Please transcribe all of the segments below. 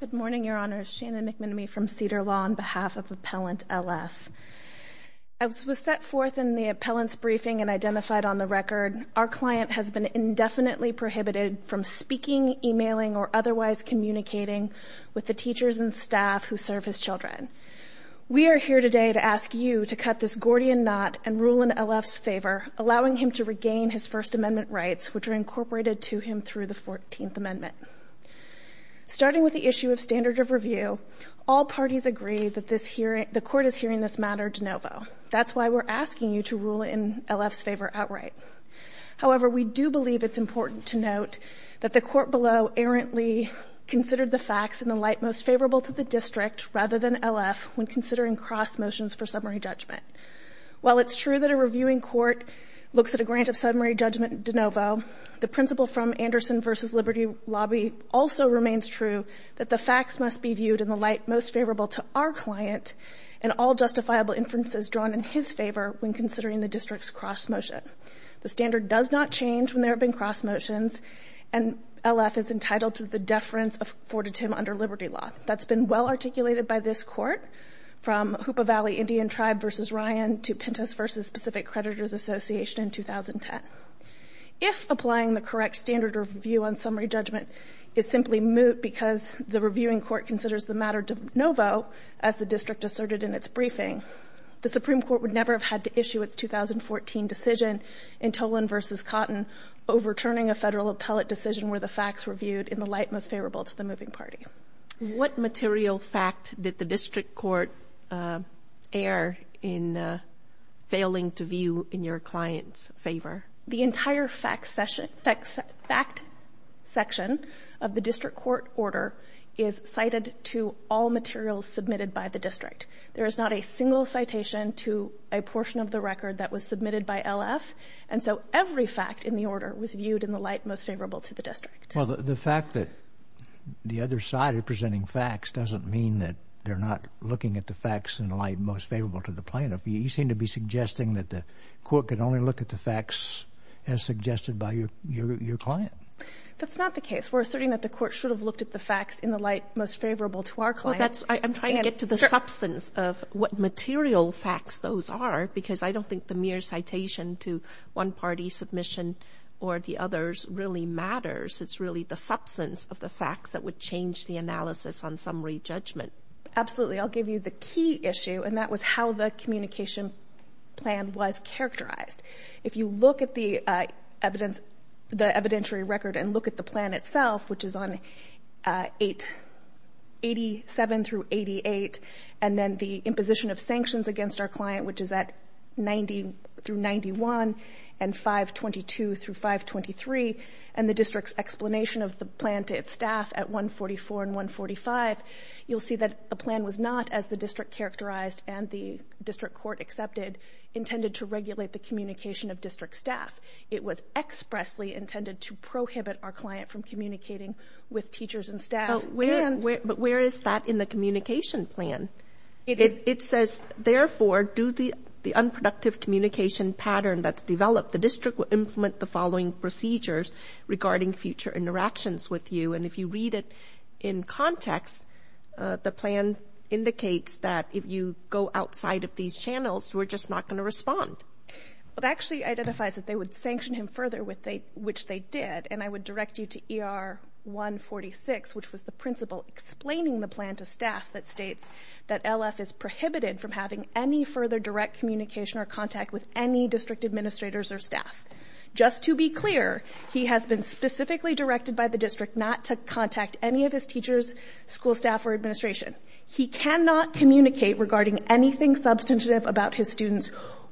Good morning, Your Honors. Shannon McMenemy from Cedar Law on behalf of Appellant L. F. As was set forth in the Appellant's briefing and identified on the record, our client has been indefinitely prohibited from speaking, emailing, or otherwise communicating with the teachers and staff who serve his children. We are here today to ask you to cut this Gordian Knot and rule in L. F.'s favor, allowing him to regain his First Amendment rights, which are incorporated to him through the Fourteenth Amendment. Starting with the issue of standard of review, all parties agree that the Court is hearing this matter de novo. That's why we're asking you to rule in L. F.'s favor outright. However, we do believe it's important to note that the Court below errantly considered the facts in the light most favorable to the District rather than L. F. when considering cross motions for summary judgment. While it's true that a reviewing Court looks at a grant of summary judgment de novo, the principle from Anderson v. Liberty Lobby also remains true that the facts must be viewed in the light most favorable to our client and all justifiable inferences drawn in his favor when considering the District's cross motion. The standard does not change when there have been cross motions, and L. F. is entitled to the deference afforded to him under Liberty Law. That's been well articulated by this Court from Hoopa Valley Indian Tribe v. Ryan to Pintus v. Specific Creditors Association in 2010. If applying the correct standard of review on summary judgment is simply moot because the reviewing Court considers the matter de novo as the District asserted in its briefing, the Supreme Court would never have had to issue its 2014 decision in Tolan v. Cotton overturning a Federal appellate decision where the facts were viewed in the light most favorable to the moving party. What material fact did the District Court err in failing to view in your client's favor? The entire fact section of the District Court order is cited to all materials submitted by the District. There is not a single citation to a portion of the record that was submitted by L. F., and so every fact in the order was viewed in the light most favorable to the District. Well, the fact that the other side are presenting facts doesn't mean that they're not looking at the facts in the light most favorable to the plaintiff. You seem to be suggesting that the Court could only look at the facts as suggested by your client. That's not the case. We're asserting that the Court should have looked at the facts in the light most favorable to our client. I'm trying to get to the substance of what material facts those are, because I don't think the mere citation to one party's submission or the other's really matters. It's really the substance of the facts that would change the analysis on summary judgment. Absolutely. I'll give you the key issue, and that was how the communication plan was characterized. If you look at the evidentiary record and look at the plan itself, which is on 87 through 88, and then the imposition of sanctions against our client, which is at 90 through 91, and 522 through 523, and the District's explanation of the plan to its staff at 144 and 145, you'll see that the plan was not, as the District characterized and the District Court accepted, intended to regulate the communication of District staff. It was expressly intended to prohibit our client from communicating with teachers and staff. But where is that in the communication plan? It says, therefore, due to the unproductive communication pattern that's developed, the District will implement the following procedures regarding future interactions with you. And if you read it in context, the plan indicates that if you go outside of these channels, we're just not going to respond. Well, it actually identifies that they would sanction him further, which they did, and I would direct you to ER 146, which was the principle explaining the plan to staff, that states that LF is prohibited from having any further direct communication or contact with any District administrators or staff. Just to be clear, he has been specifically directed by the District not to contact any of his teachers, school staff, or administration. He cannot communicate regarding anything substantive about his students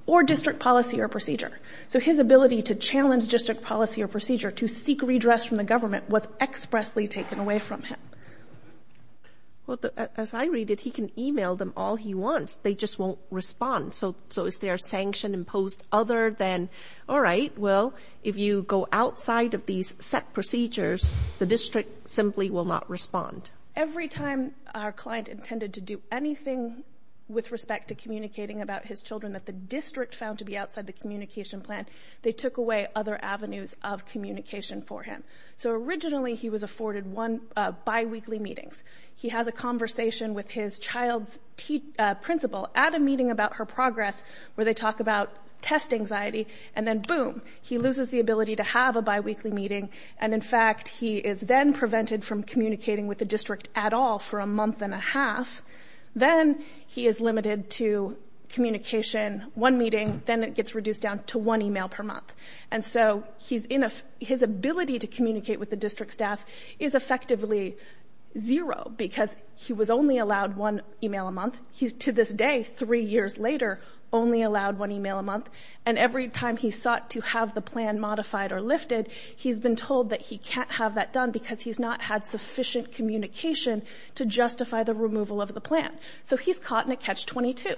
or District policy or procedure. So his ability to challenge District policy or procedure, to seek redress from the government, was expressly taken away from him. Well, as I read it, he can email them all he wants. They just won't respond. So is there a sanction imposed other than, all right, well, if you go outside of these set procedures, the District simply will not respond. Every time our client intended to do anything with respect to communicating about his children that the District found to be outside the communication plan, they took away other avenues of communication for him. So originally, he was afforded one biweekly meetings. He has a conversation with his child's principal at a meeting about her progress where they talk about test anxiety. And then, boom, he loses the ability to have a biweekly meeting. And, in fact, he is then prevented from communicating with the District at all for a month and a half. Then he is limited to communication, one meeting. Then it gets reduced down to one email per month. And so his ability to communicate with the District staff is effectively zero because he was only allowed one email a month. He's, to this day, three years later, only allowed one email a month. And every time he sought to have the plan modified or lifted, he's been told that he can't have that done because he's not had sufficient communication to justify the removal of the plan. So he's caught in a catch-22.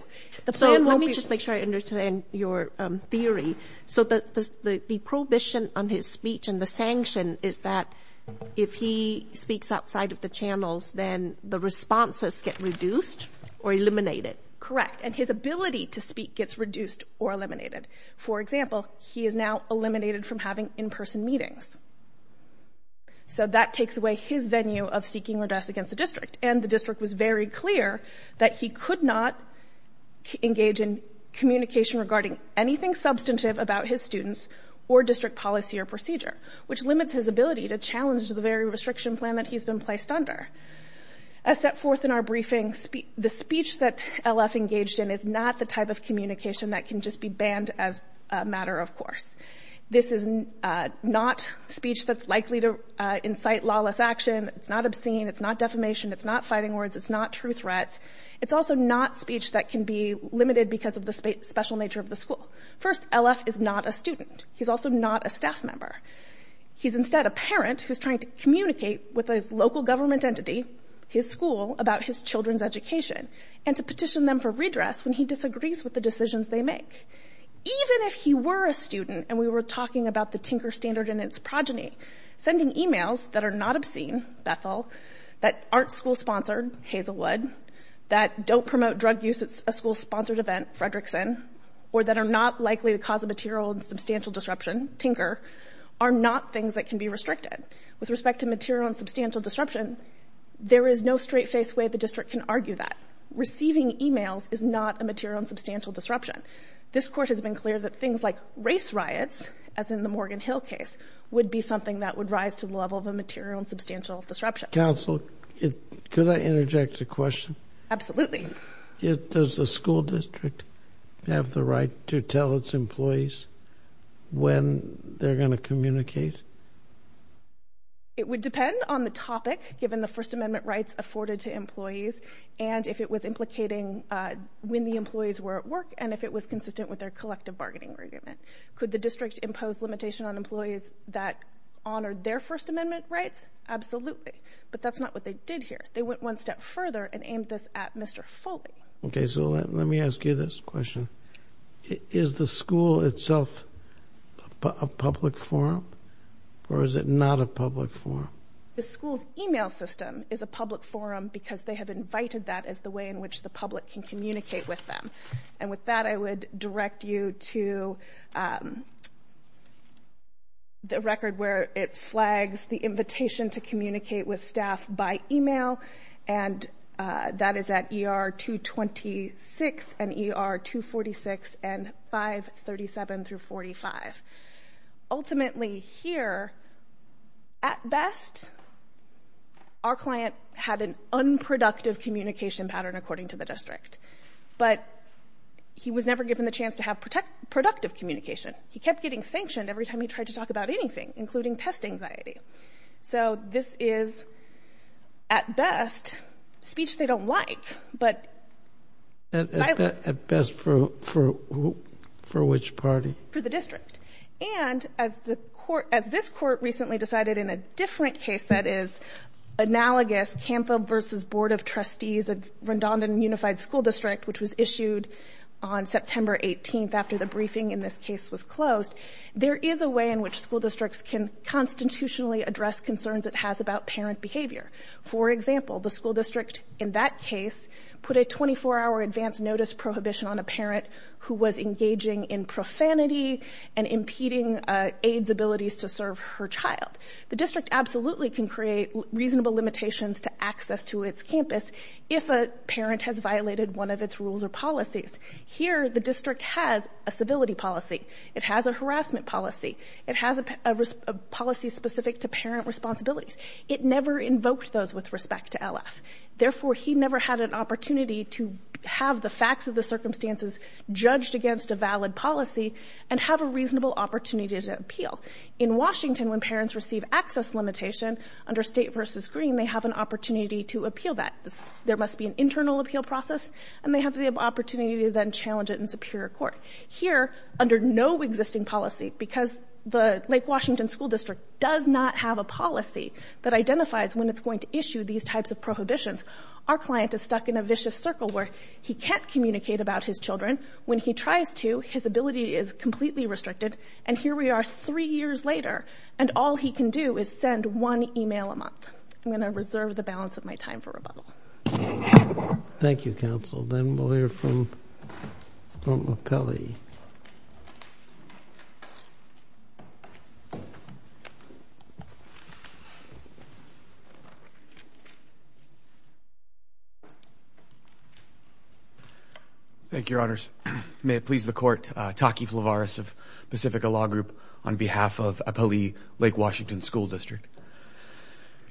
Let me just make sure I understand your theory. So the prohibition on his speech and the sanction is that if he speaks outside of the channels, then the responses get reduced or eliminated? Correct. And his ability to speak gets reduced or eliminated. For example, he is now eliminated from having in-person meetings. And the District was very clear that he could not engage in communication regarding anything substantive about his students or District policy or procedure, which limits his ability to challenge the very restriction plan that he's been placed under. As set forth in our briefing, the speech that LF engaged in is not the type of communication that can just be banned as a matter of course. This is not speech that's likely to incite lawless action. It's not obscene. It's not defamation. It's not fighting words. It's not true threats. It's also not speech that can be limited because of the special nature of the school. First, LF is not a student. He's also not a staff member. He's instead a parent who's trying to communicate with his local government entity, his school, about his children's education, and to petition them for redress when he disagrees with the decisions they make. Even if he were a student and we were talking about the Tinker Standard and its progeny, sending e-mails that are not obscene, Bethel, that aren't school-sponsored, Hazelwood, that don't promote drug use at a school-sponsored event, Fredrickson, or that are not likely to cause a material and substantial disruption, Tinker, are not things that can be restricted. With respect to material and substantial disruption, there is no straight-faced way the District can argue that. Receiving e-mails is not a material and substantial disruption. This Court has been clear that things like race riots, as in the Morgan Hill case, would be something that would rise to the level of a material and substantial disruption. Counsel, could I interject a question? Absolutely. Does the school district have the right to tell its employees when they're going to communicate? It would depend on the topic, given the First Amendment rights afforded to employees, and if it was implicating when the employees were at work, and if it was consistent with their collective bargaining agreement. Could the District impose limitation on employees that honored their First Amendment rights? Absolutely. But that's not what they did here. They went one step further and aimed this at Mr. Foley. Okay, so let me ask you this question. Is the school itself a public forum, or is it not a public forum? The school's e-mail system is a public forum because they have invited that as the way in which the public can communicate with them. And with that, I would direct you to the record where it flags the invitation to communicate with staff by e-mail, and that is at ER 226 and ER 246 and 537-45. Ultimately here, at best, our client had an unproductive communication pattern, according to the District. But he was never given the chance to have productive communication. He kept getting sanctioned every time he tried to talk about anything, including test anxiety. So this is, at best, speech they don't like. At best for which party? For the District. And as this Court recently decided in a different case that is analogous, CAMFA versus Board of Trustees, a redundant and unified school district, which was issued on September 18th after the briefing in this case was closed, there is a way in which school districts can constitutionally address concerns it has about parent behavior. For example, the school district in that case put a 24-hour advance notice prohibition on a parent who was engaging in profanity and impeding AIDS abilities to serve her child. The district absolutely can create reasonable limitations to access to its campus if a parent has violated one of its rules or policies. Here, the district has a civility policy. It has a harassment policy. It has a policy specific to parent responsibilities. It never invoked those with respect to LF. Therefore, he never had an opportunity to have the facts of the circumstances judged against a valid policy and have a reasonable opportunity to appeal. In Washington, when parents receive access limitation under State versus Green, they have an opportunity to appeal that. There must be an internal appeal process, and they have the opportunity to then challenge it in superior court. Here, under no existing policy, because the Lake Washington School District does not have a policy that identifies when it's going to issue these types of prohibitions, our client is stuck in a vicious circle where he can't communicate about his children. When he tries to, his ability is completely restricted. And here we are three years later, and all he can do is send one email a month. I'm going to reserve the balance of my time for rebuttal. Thank you, Counsel. Then we'll hear from Appellee. Thank you, Your Honors. May it please the Court, Taki Flavaris of Pacifica Law Group on behalf of Appellee Lake Washington School District.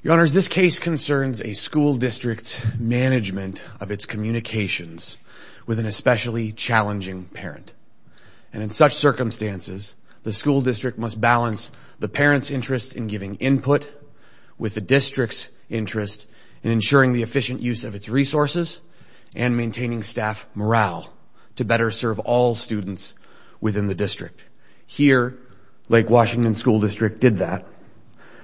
Your Honors, this case concerns a school district's management of its communications with an especially challenging parent. And in such circumstances, the school district must balance the parent's interest in giving input with the district's interest in ensuring the efficient use of its resources and maintaining staff morale to better serve all students within the district. Here, Lake Washington School District did that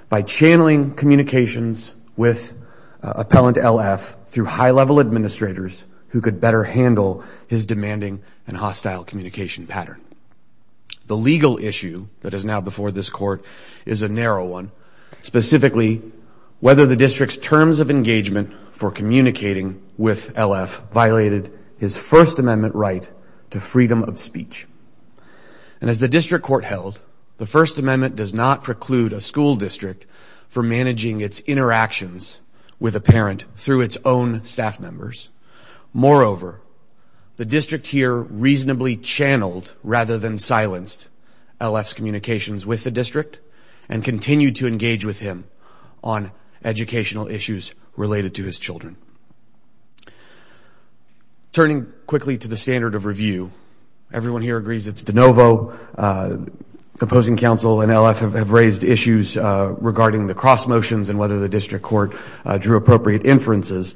by channeling communications with Appellant L.F. through high-level administrators who could better handle his demanding and hostile communication pattern. The legal issue that is now before this Court is a narrow one, specifically whether the district's terms of engagement for communicating with L.F. And as the district court held, the First Amendment does not preclude a school district from managing its interactions with a parent through its own staff members. Moreover, the district here reasonably channeled rather than silenced L.F.'s communications with the district and continued to engage with him on educational issues related to his children. Turning quickly to the standard of review, everyone here agrees it's de novo. Opposing counsel and L.F. have raised issues regarding the cross motions and whether the district court drew appropriate inferences.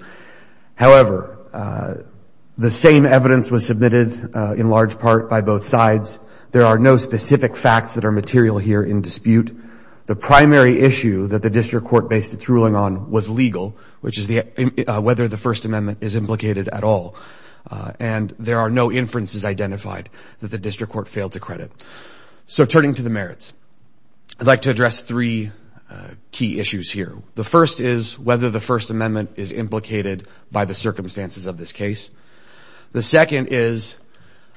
However, the same evidence was submitted in large part by both sides. There are no specific facts that are material here in dispute. The primary issue that the district court based its ruling on was legal, which is whether the First Amendment is implicated at all. And there are no inferences identified that the district court failed to credit. So turning to the merits, I'd like to address three key issues here. The first is whether the First Amendment is implicated by the circumstances of this case. The second is,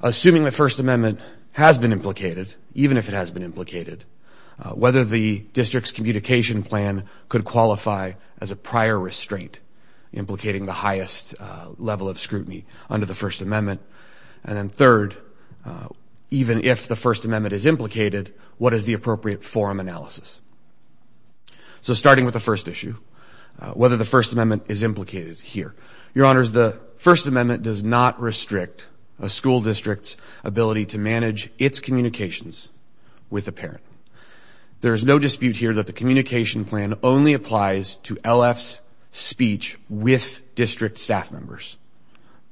assuming the First Amendment has been implicated, even if it has been implicated, whether the district's communication plan could qualify as a prior restraint, implicating the highest level of scrutiny under the First Amendment. And then third, even if the First Amendment is implicated, what is the appropriate forum analysis? So starting with the first issue, whether the First Amendment is implicated here. Your Honors, the First Amendment does not restrict a school district's ability to manage its communications with a parent. There is no dispute here that the communication plan only applies to LF's speech with district staff members.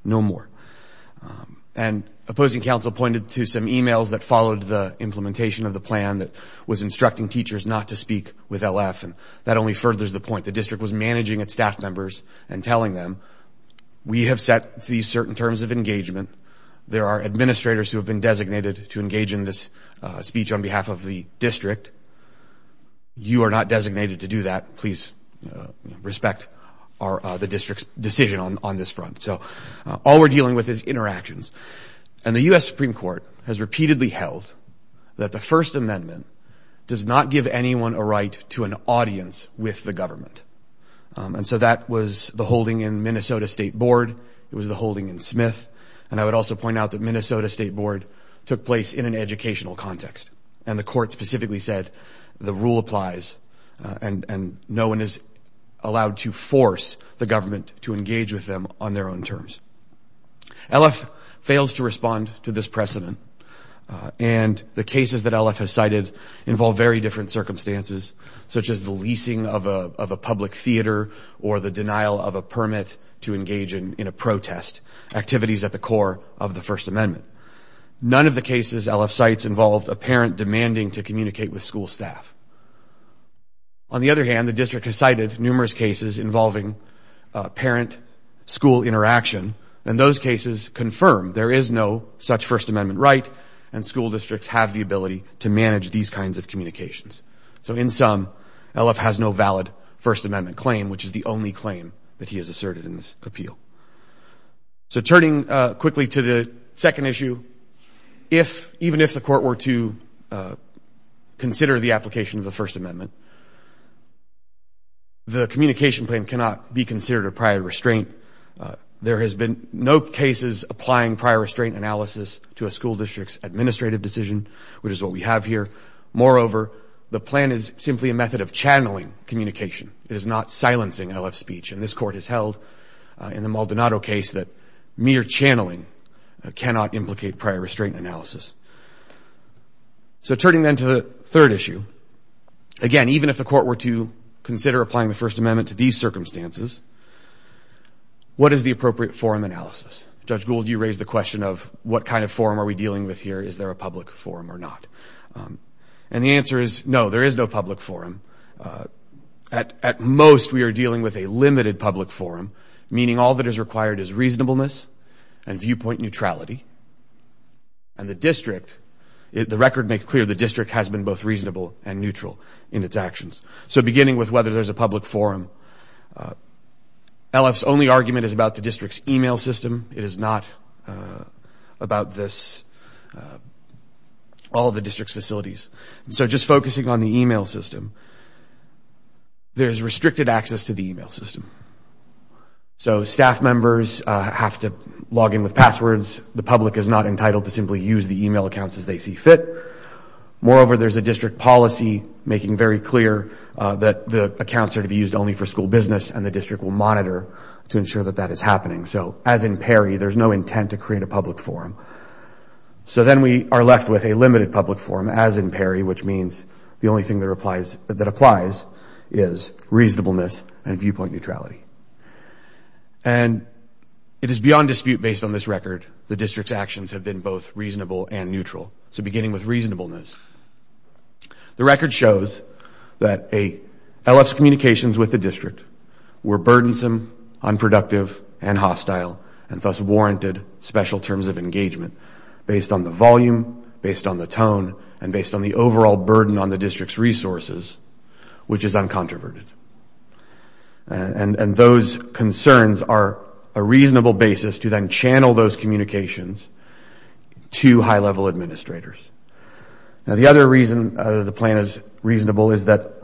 No more. And opposing counsel pointed to some emails that followed the implementation of the plan that was instructing teachers not to speak with LF, and that only furthers the point. The district was managing its staff members and telling them, we have set these certain terms of engagement. There are administrators who have been designated to engage in this speech on behalf of the district. You are not designated to do that. Please respect the district's decision on this front. So all we're dealing with is interactions. And the U.S. Supreme Court has repeatedly held that the First Amendment does not give anyone a right to an audience with the government. And so that was the holding in Minnesota State Board. It was the holding in Smith. And I would also point out that Minnesota State Board took place in an educational context, and the court specifically said the rule applies and no one is allowed to force the government to engage with them on their own terms. LF fails to respond to this precedent, and the cases that LF has cited involve very different circumstances, such as the leasing of a public theater or the denial of a permit to engage in a protest, activities at the core of the First Amendment. None of the cases LF cites involved a parent demanding to communicate with school staff. On the other hand, the district has cited numerous cases involving parent-school interaction, and those cases confirm there is no such First Amendment right, and school districts have the ability to manage these kinds of communications. So in sum, LF has no valid First Amendment claim, which is the only claim that he has asserted in this appeal. So turning quickly to the second issue, even if the court were to consider the application of the First Amendment, the communication plan cannot be considered a prior restraint. There has been no cases applying prior restraint analysis to a school district's administrative decision, which is what we have here. Moreover, the plan is simply a method of channeling communication. It is not silencing LF speech, and this court has held in the Maldonado case that mere channeling cannot implicate prior restraint analysis. So turning then to the third issue, again, even if the court were to consider applying the First Amendment to these circumstances, what is the appropriate forum analysis? Judge Gould, you raised the question of what kind of forum are we dealing with here? Is there a public forum or not? And the answer is no, there is no public forum. At most, we are dealing with a limited public forum, meaning all that is required is reasonableness and viewpoint neutrality. And the district, the record makes clear the district has been both reasonable and neutral in its actions. So beginning with whether there is a public forum, LF's only argument is about the district's email system. It is not about this, all of the district's facilities. So just focusing on the email system, there is restricted access to the email system. So staff members have to log in with passwords. The public is not entitled to simply use the email accounts as they see fit. Moreover, there is a district policy making very clear that the accounts are to be used only for school business, and the district will monitor to ensure that that is happening. So as in Perry, there is no intent to create a public forum. So then we are left with a limited public forum, as in Perry, which means the only thing that applies is reasonableness and viewpoint neutrality. And it is beyond dispute based on this record, the district's actions have been both reasonable and neutral. So beginning with reasonableness. The record shows that LF's communications with the district were burdensome, unproductive, and hostile, and thus warranted special terms of engagement based on the volume, based on the tone, and based on the overall burden on the district's resources, which is uncontroverted. And those concerns are a reasonable basis to then channel those communications to high-level administrators. Now the other reason the plan is reasonable is that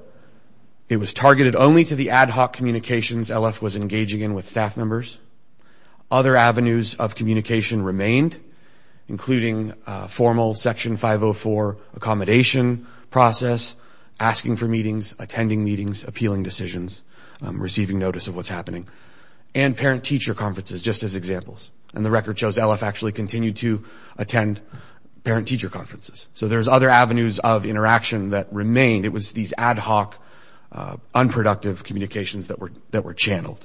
it was targeted only to the ad hoc communications LF was engaging in with staff members. Other avenues of communication remained, including formal Section 504 accommodation process, asking for meetings, attending meetings, appealing decisions, receiving notice of what's happening, and parent-teacher conferences, just as examples. And the record shows LF actually continued to attend parent-teacher conferences. So there's other avenues of interaction that remained. It was these ad hoc, unproductive communications that were channeled.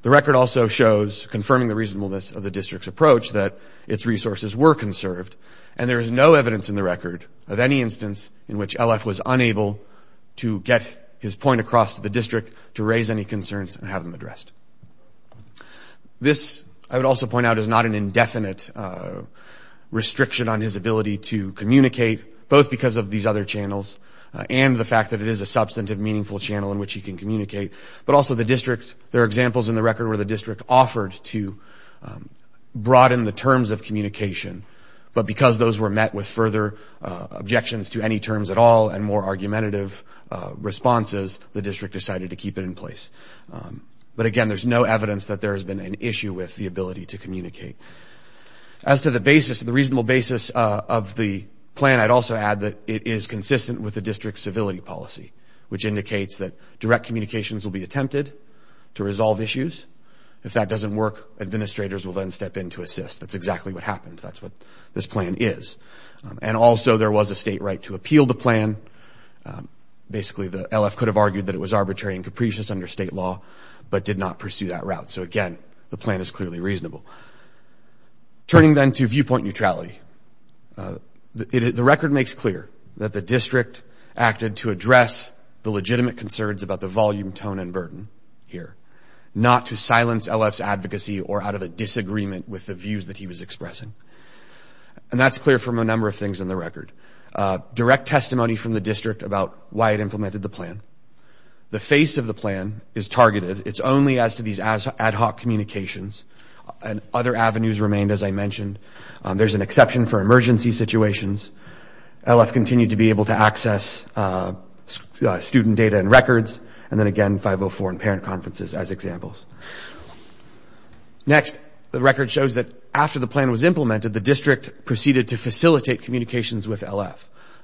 The record also shows, confirming the reasonableness of the district's approach, that its resources were conserved, and there is no evidence in the record of any instance in which LF was unable to get his point across to the district to raise any concerns and have them addressed. This, I would also point out, is not an indefinite restriction on his ability to communicate, both because of these other channels and the fact that it is a substantive, meaningful channel in which he can communicate, but also the district. There are examples in the record where the district offered to broaden the terms of communication, but because those were met with further objections to any terms at all and more argumentative responses, the district decided to keep it in place. But again, there's no evidence that there has been an issue with the ability to communicate. As to the basis, the reasonable basis of the plan, I'd also add that it is consistent with the district's civility policy, which indicates that direct communications will be attempted to resolve issues. If that doesn't work, administrators will then step in to assist. That's exactly what happened. That's what this plan is. And also, there was a state right to appeal the plan. Basically, the LF could have argued that it was arbitrary and capricious under state law, but did not pursue that route. So again, the plan is clearly reasonable. Turning then to viewpoint neutrality, the record makes clear that the district acted to address the legitimate concerns about the volume, tone, and burden here, not to silence LF's advocacy or out of a disagreement with the views that he was expressing. And that's clear from a number of things in the record. Direct testimony from the district about why it implemented the plan. The face of the plan is targeted. It's only as to these ad hoc communications. And other avenues remained, as I mentioned. There's an exception for emergency situations. LF continued to be able to access student data and records, and then again, 504 and parent conferences as examples. Next, the record shows that after the plan was implemented, the district proceeded to facilitate communications with LF.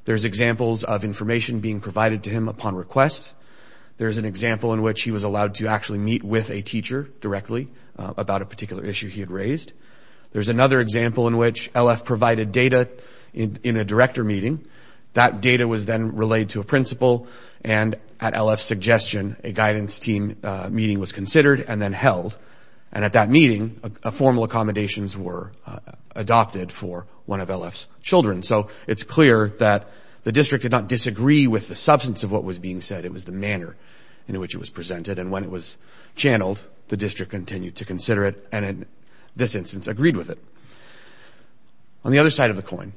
There's examples of information being provided to him upon request. There's an example in which he was allowed to actually meet with a teacher directly about a particular issue he had raised. There's another example in which LF provided data in a director meeting. That data was then relayed to a principal, and at LF's suggestion, a guidance team meeting was considered and then held. And at that meeting, formal accommodations were adopted for one of LF's children. So it's clear that the district did not disagree with the substance of what was being said. It was the manner in which it was presented. And when it was channeled, the district continued to consider it and, in this instance, agreed with it. On the other side of the coin,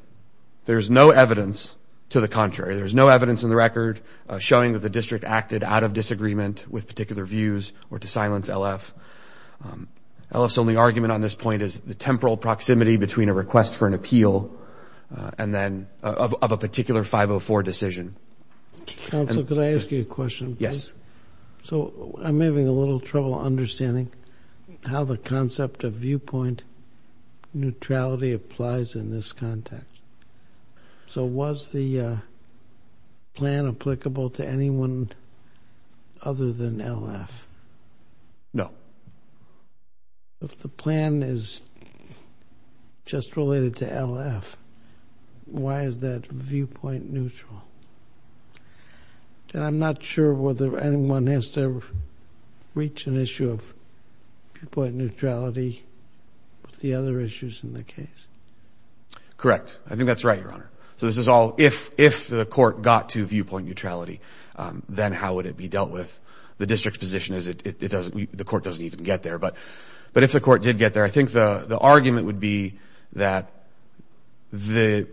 there's no evidence to the contrary. There's no evidence in the record showing that the district acted out of disagreement with particular views or to silence LF. LF's only argument on this point is the temporal proximity between a request for an appeal and then of a particular 504 decision. Counsel, could I ask you a question, please? Yes. So I'm having a little trouble understanding how the concept of viewpoint neutrality applies in this context. So was the plan applicable to anyone other than LF? No. If the plan is just related to LF, why is that viewpoint neutral? And I'm not sure whether anyone has to reach an issue of viewpoint neutrality with the other issues in the case. Correct. I think that's right, Your Honor. So this is all if the court got to viewpoint neutrality, then how would it be dealt with? The district's position is the court doesn't even get there. But if the court did get there, I think the argument would be that the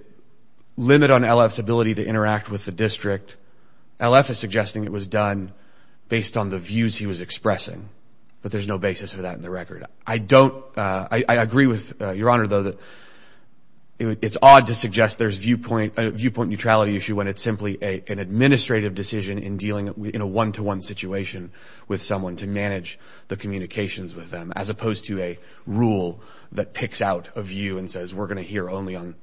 limit on LF's ability to interact with the district, LF is suggesting it was done based on the views he was expressing. But there's no basis for that in the record. I agree with Your Honor, though, that it's odd to suggest there's a viewpoint neutrality issue when it's simply an administrative decision in dealing in a one-to-one situation with someone to manage the communications with them, as opposed to a rule that picks out a view and says, we're going to hear only on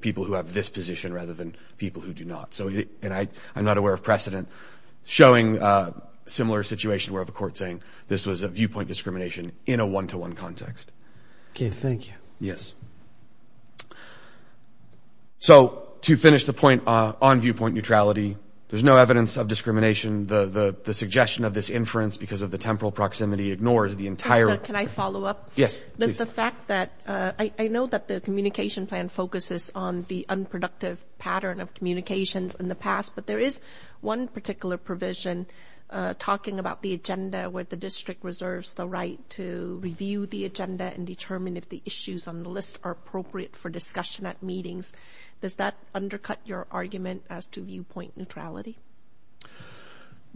people who have this position rather than people who do not. And I'm not aware of precedent showing a similar situation where the court is saying this was a viewpoint discrimination in a one-to-one context. Okay. Thank you. Yes. So to finish the point on viewpoint neutrality, there's no evidence of discrimination. The suggestion of this inference because of the temporal proximity ignores the entire – Can I follow up? Yes. Does the fact that – I know that the communication plan focuses on the unproductive pattern of communications in the past, but there is one particular provision talking about the agenda where the district reserves the right to review the agenda and determine if the issues on the list are appropriate for discussion at meetings. Does that undercut your argument as to viewpoint neutrality?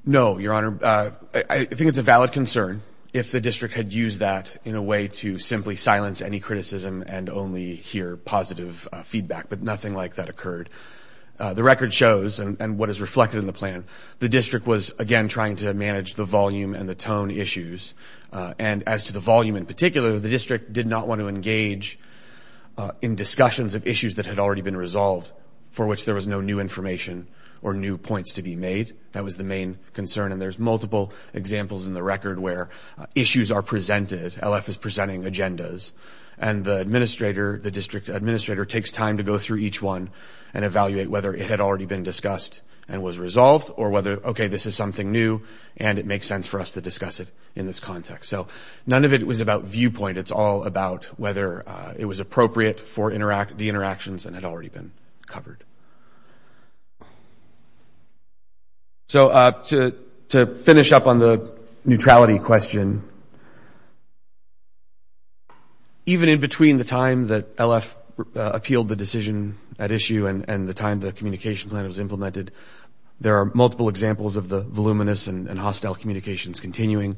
No, Your Honor. I think it's a valid concern if the district had used that in a way to simply silence any criticism and only hear positive feedback. But nothing like that occurred. The record shows, and what is reflected in the plan, the district was, again, trying to manage the volume and the tone issues. And as to the volume in particular, the district did not want to engage in discussions of issues that had already been resolved for which there was no new information or new points to be made. That was the main concern. And there's multiple examples in the record where issues are presented. LF is presenting agendas. And the administrator, the district administrator, takes time to go through each one and evaluate whether it had already been discussed and was resolved or whether, okay, this is something new and it makes sense for us to discuss it in this context. So none of it was about viewpoint. It's all about whether it was appropriate for the interactions and had already been covered. So to finish up on the neutrality question, even in between the time that LF appealed the decision at issue and the time the communication plan was implemented, there are multiple examples of the voluminous and hostile communications continuing.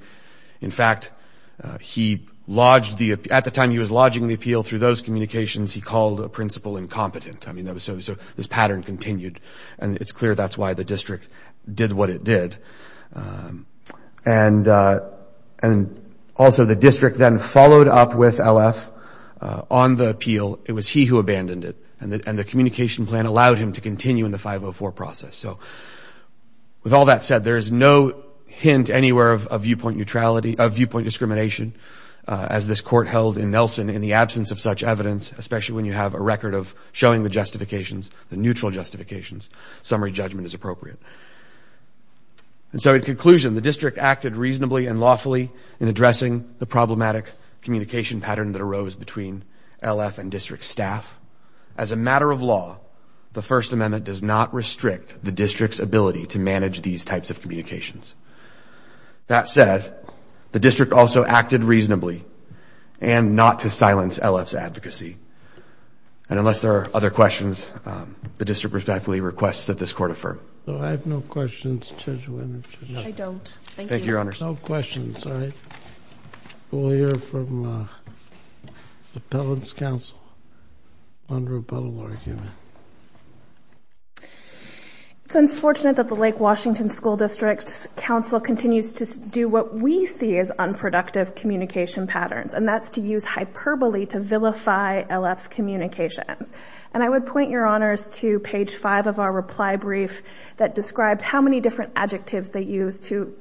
In fact, at the time he was lodging the appeal through those communications, he called a principal incompetent. I mean, so this pattern continued. And it's clear that's why the district did what it did. And also the district then followed up with LF on the appeal. It was he who abandoned it. And the communication plan allowed him to continue in the 504 process. So with all that said, there is no hint anywhere of viewpoint neutrality, of viewpoint discrimination, as this court held in Nelson in the absence of such evidence, especially when you have a record of showing the justifications, the neutral justifications. Summary judgment is appropriate. And so in conclusion, the district acted reasonably and lawfully in addressing the problematic communication pattern that arose between LF and district staff. As a matter of law, the First Amendment does not restrict the district's ability to manage these types of communications. That said, the district also acted reasonably and not to silence LF's advocacy. And unless there are other questions, the district respectfully requests that this court affirm. So I have no questions, Judge Winters. I don't. Thank you, Your Honors. No questions. All right. We'll hear from the Appellant's counsel on the rebuttal argument. It's unfortunate that the Lake Washington School District's counsel continues to do what we see as unproductive communication patterns, and that's to use hyperbole to vilify LF's communications. And I would point, Your Honors, to page 5 of our reply brief that describes how many different adjectives they use to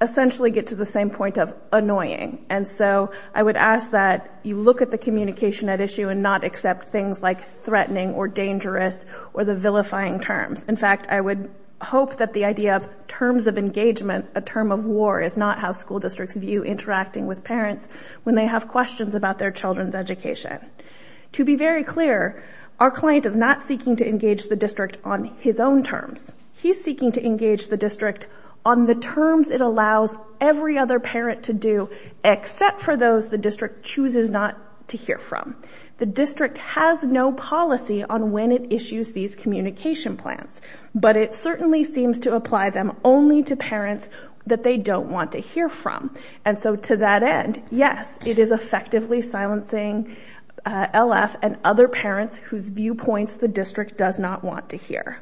essentially get to the same point of annoying. And so I would ask that you look at the communication at issue and not accept things like threatening or dangerous or the vilifying terms. In fact, I would hope that the idea of terms of engagement, a term of war, is not how school districts view interacting with parents when they have questions about their children's education. To be very clear, our client is not seeking to engage the district on his own terms. He's seeking to engage the district on the terms it allows every other parent to do, except for those the district chooses not to hear from. The district has no policy on when it issues these communication plans, but it certainly seems to apply them only to parents that they don't want to hear from. And so to that end, yes, it is effectively silencing LF and other parents whose viewpoints the district does not want to hear.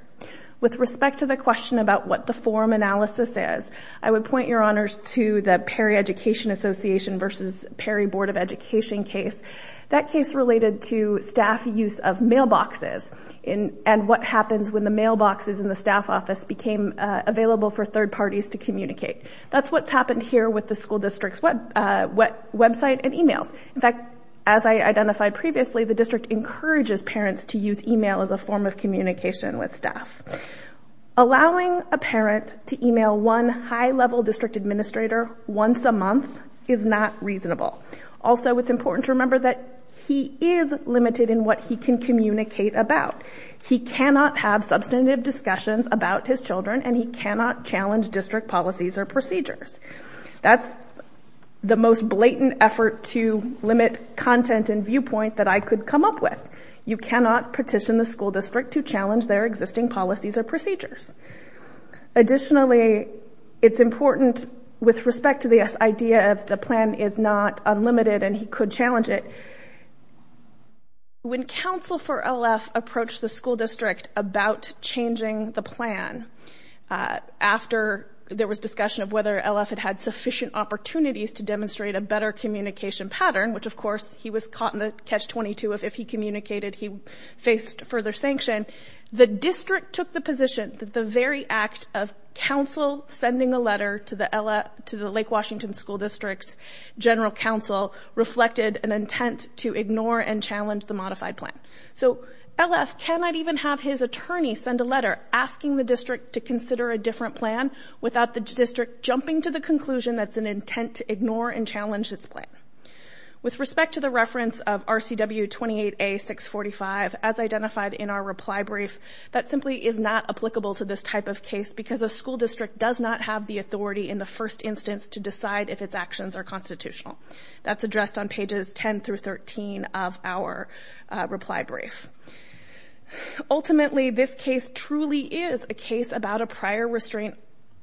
With respect to the question about what the form analysis is, I would point, Your Honors, to the Perry Education Association versus Perry Board of Education case. That case related to staff use of mailboxes and what happens when the mailboxes in the staff office became available for third parties to communicate. That's what's happened here with the school district's website and e-mails. In fact, as I identified previously, the district encourages parents to use e-mail as a form of communication with staff. Allowing a parent to e-mail one high-level district administrator once a month is not reasonable. Also, it's important to remember that he is limited in what he can communicate about. He cannot have substantive discussions about his children and he cannot challenge district policies or procedures. That's the most blatant effort to limit content and viewpoint that I could come up with. You cannot petition the school district to challenge their existing policies or procedures. Additionally, it's important with respect to this idea of the plan is not unlimited and he could challenge it. When counsel for LF approached the school district about changing the plan, after there was discussion of whether LF had had sufficient opportunities to demonstrate a better communication pattern, which, of course, he was caught in the catch-22 of if he communicated, he faced further sanction, the district took the position that the very act of counsel sending a letter to the Lake Washington School District's general counsel reflected an intent to ignore and challenge the modified plan. So, LF cannot even have his attorney send a letter asking the district to consider a different plan without the district jumping to the conclusion that it's an intent to ignore and challenge its plan. With respect to the reference of RCW 28A-645, as identified in our reply brief, that simply is not applicable to this type of case because a school district does not have the authority in the first instance to decide if its actions are constitutional. That's addressed on pages 10 through 13 of our reply brief. Ultimately, this case truly is a case about a prior restraint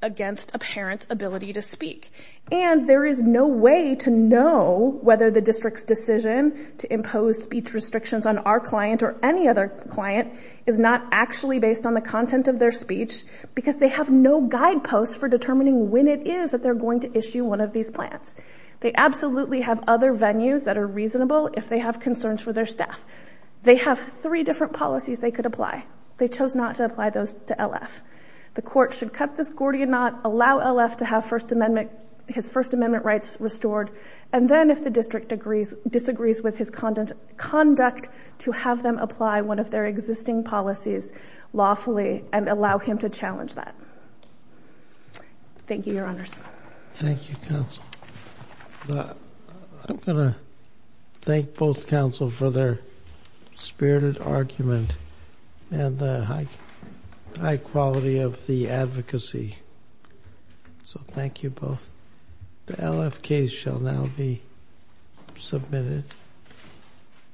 against a parent's ability to speak, and there is no way to know whether the district's decision to impose speech restrictions on our client or any other client is not actually based on the content of their speech because they have no guideposts for determining when it is that they're going to issue one of these plans. They absolutely have other venues that are reasonable if they have concerns for their staff. They have three different policies they could apply. They chose not to apply those to LF. The court should cut this Gordian Knot, allow LF to have his First Amendment rights restored, and then if the district disagrees with his conduct, to have them apply one of their existing policies lawfully and allow him to challenge that. Thank you, Your Honors. Thank you, Counsel. I'm going to thank both counsel for their spirited argument and the high quality of the advocacy. So, thank you both. The LF case shall now be submitted.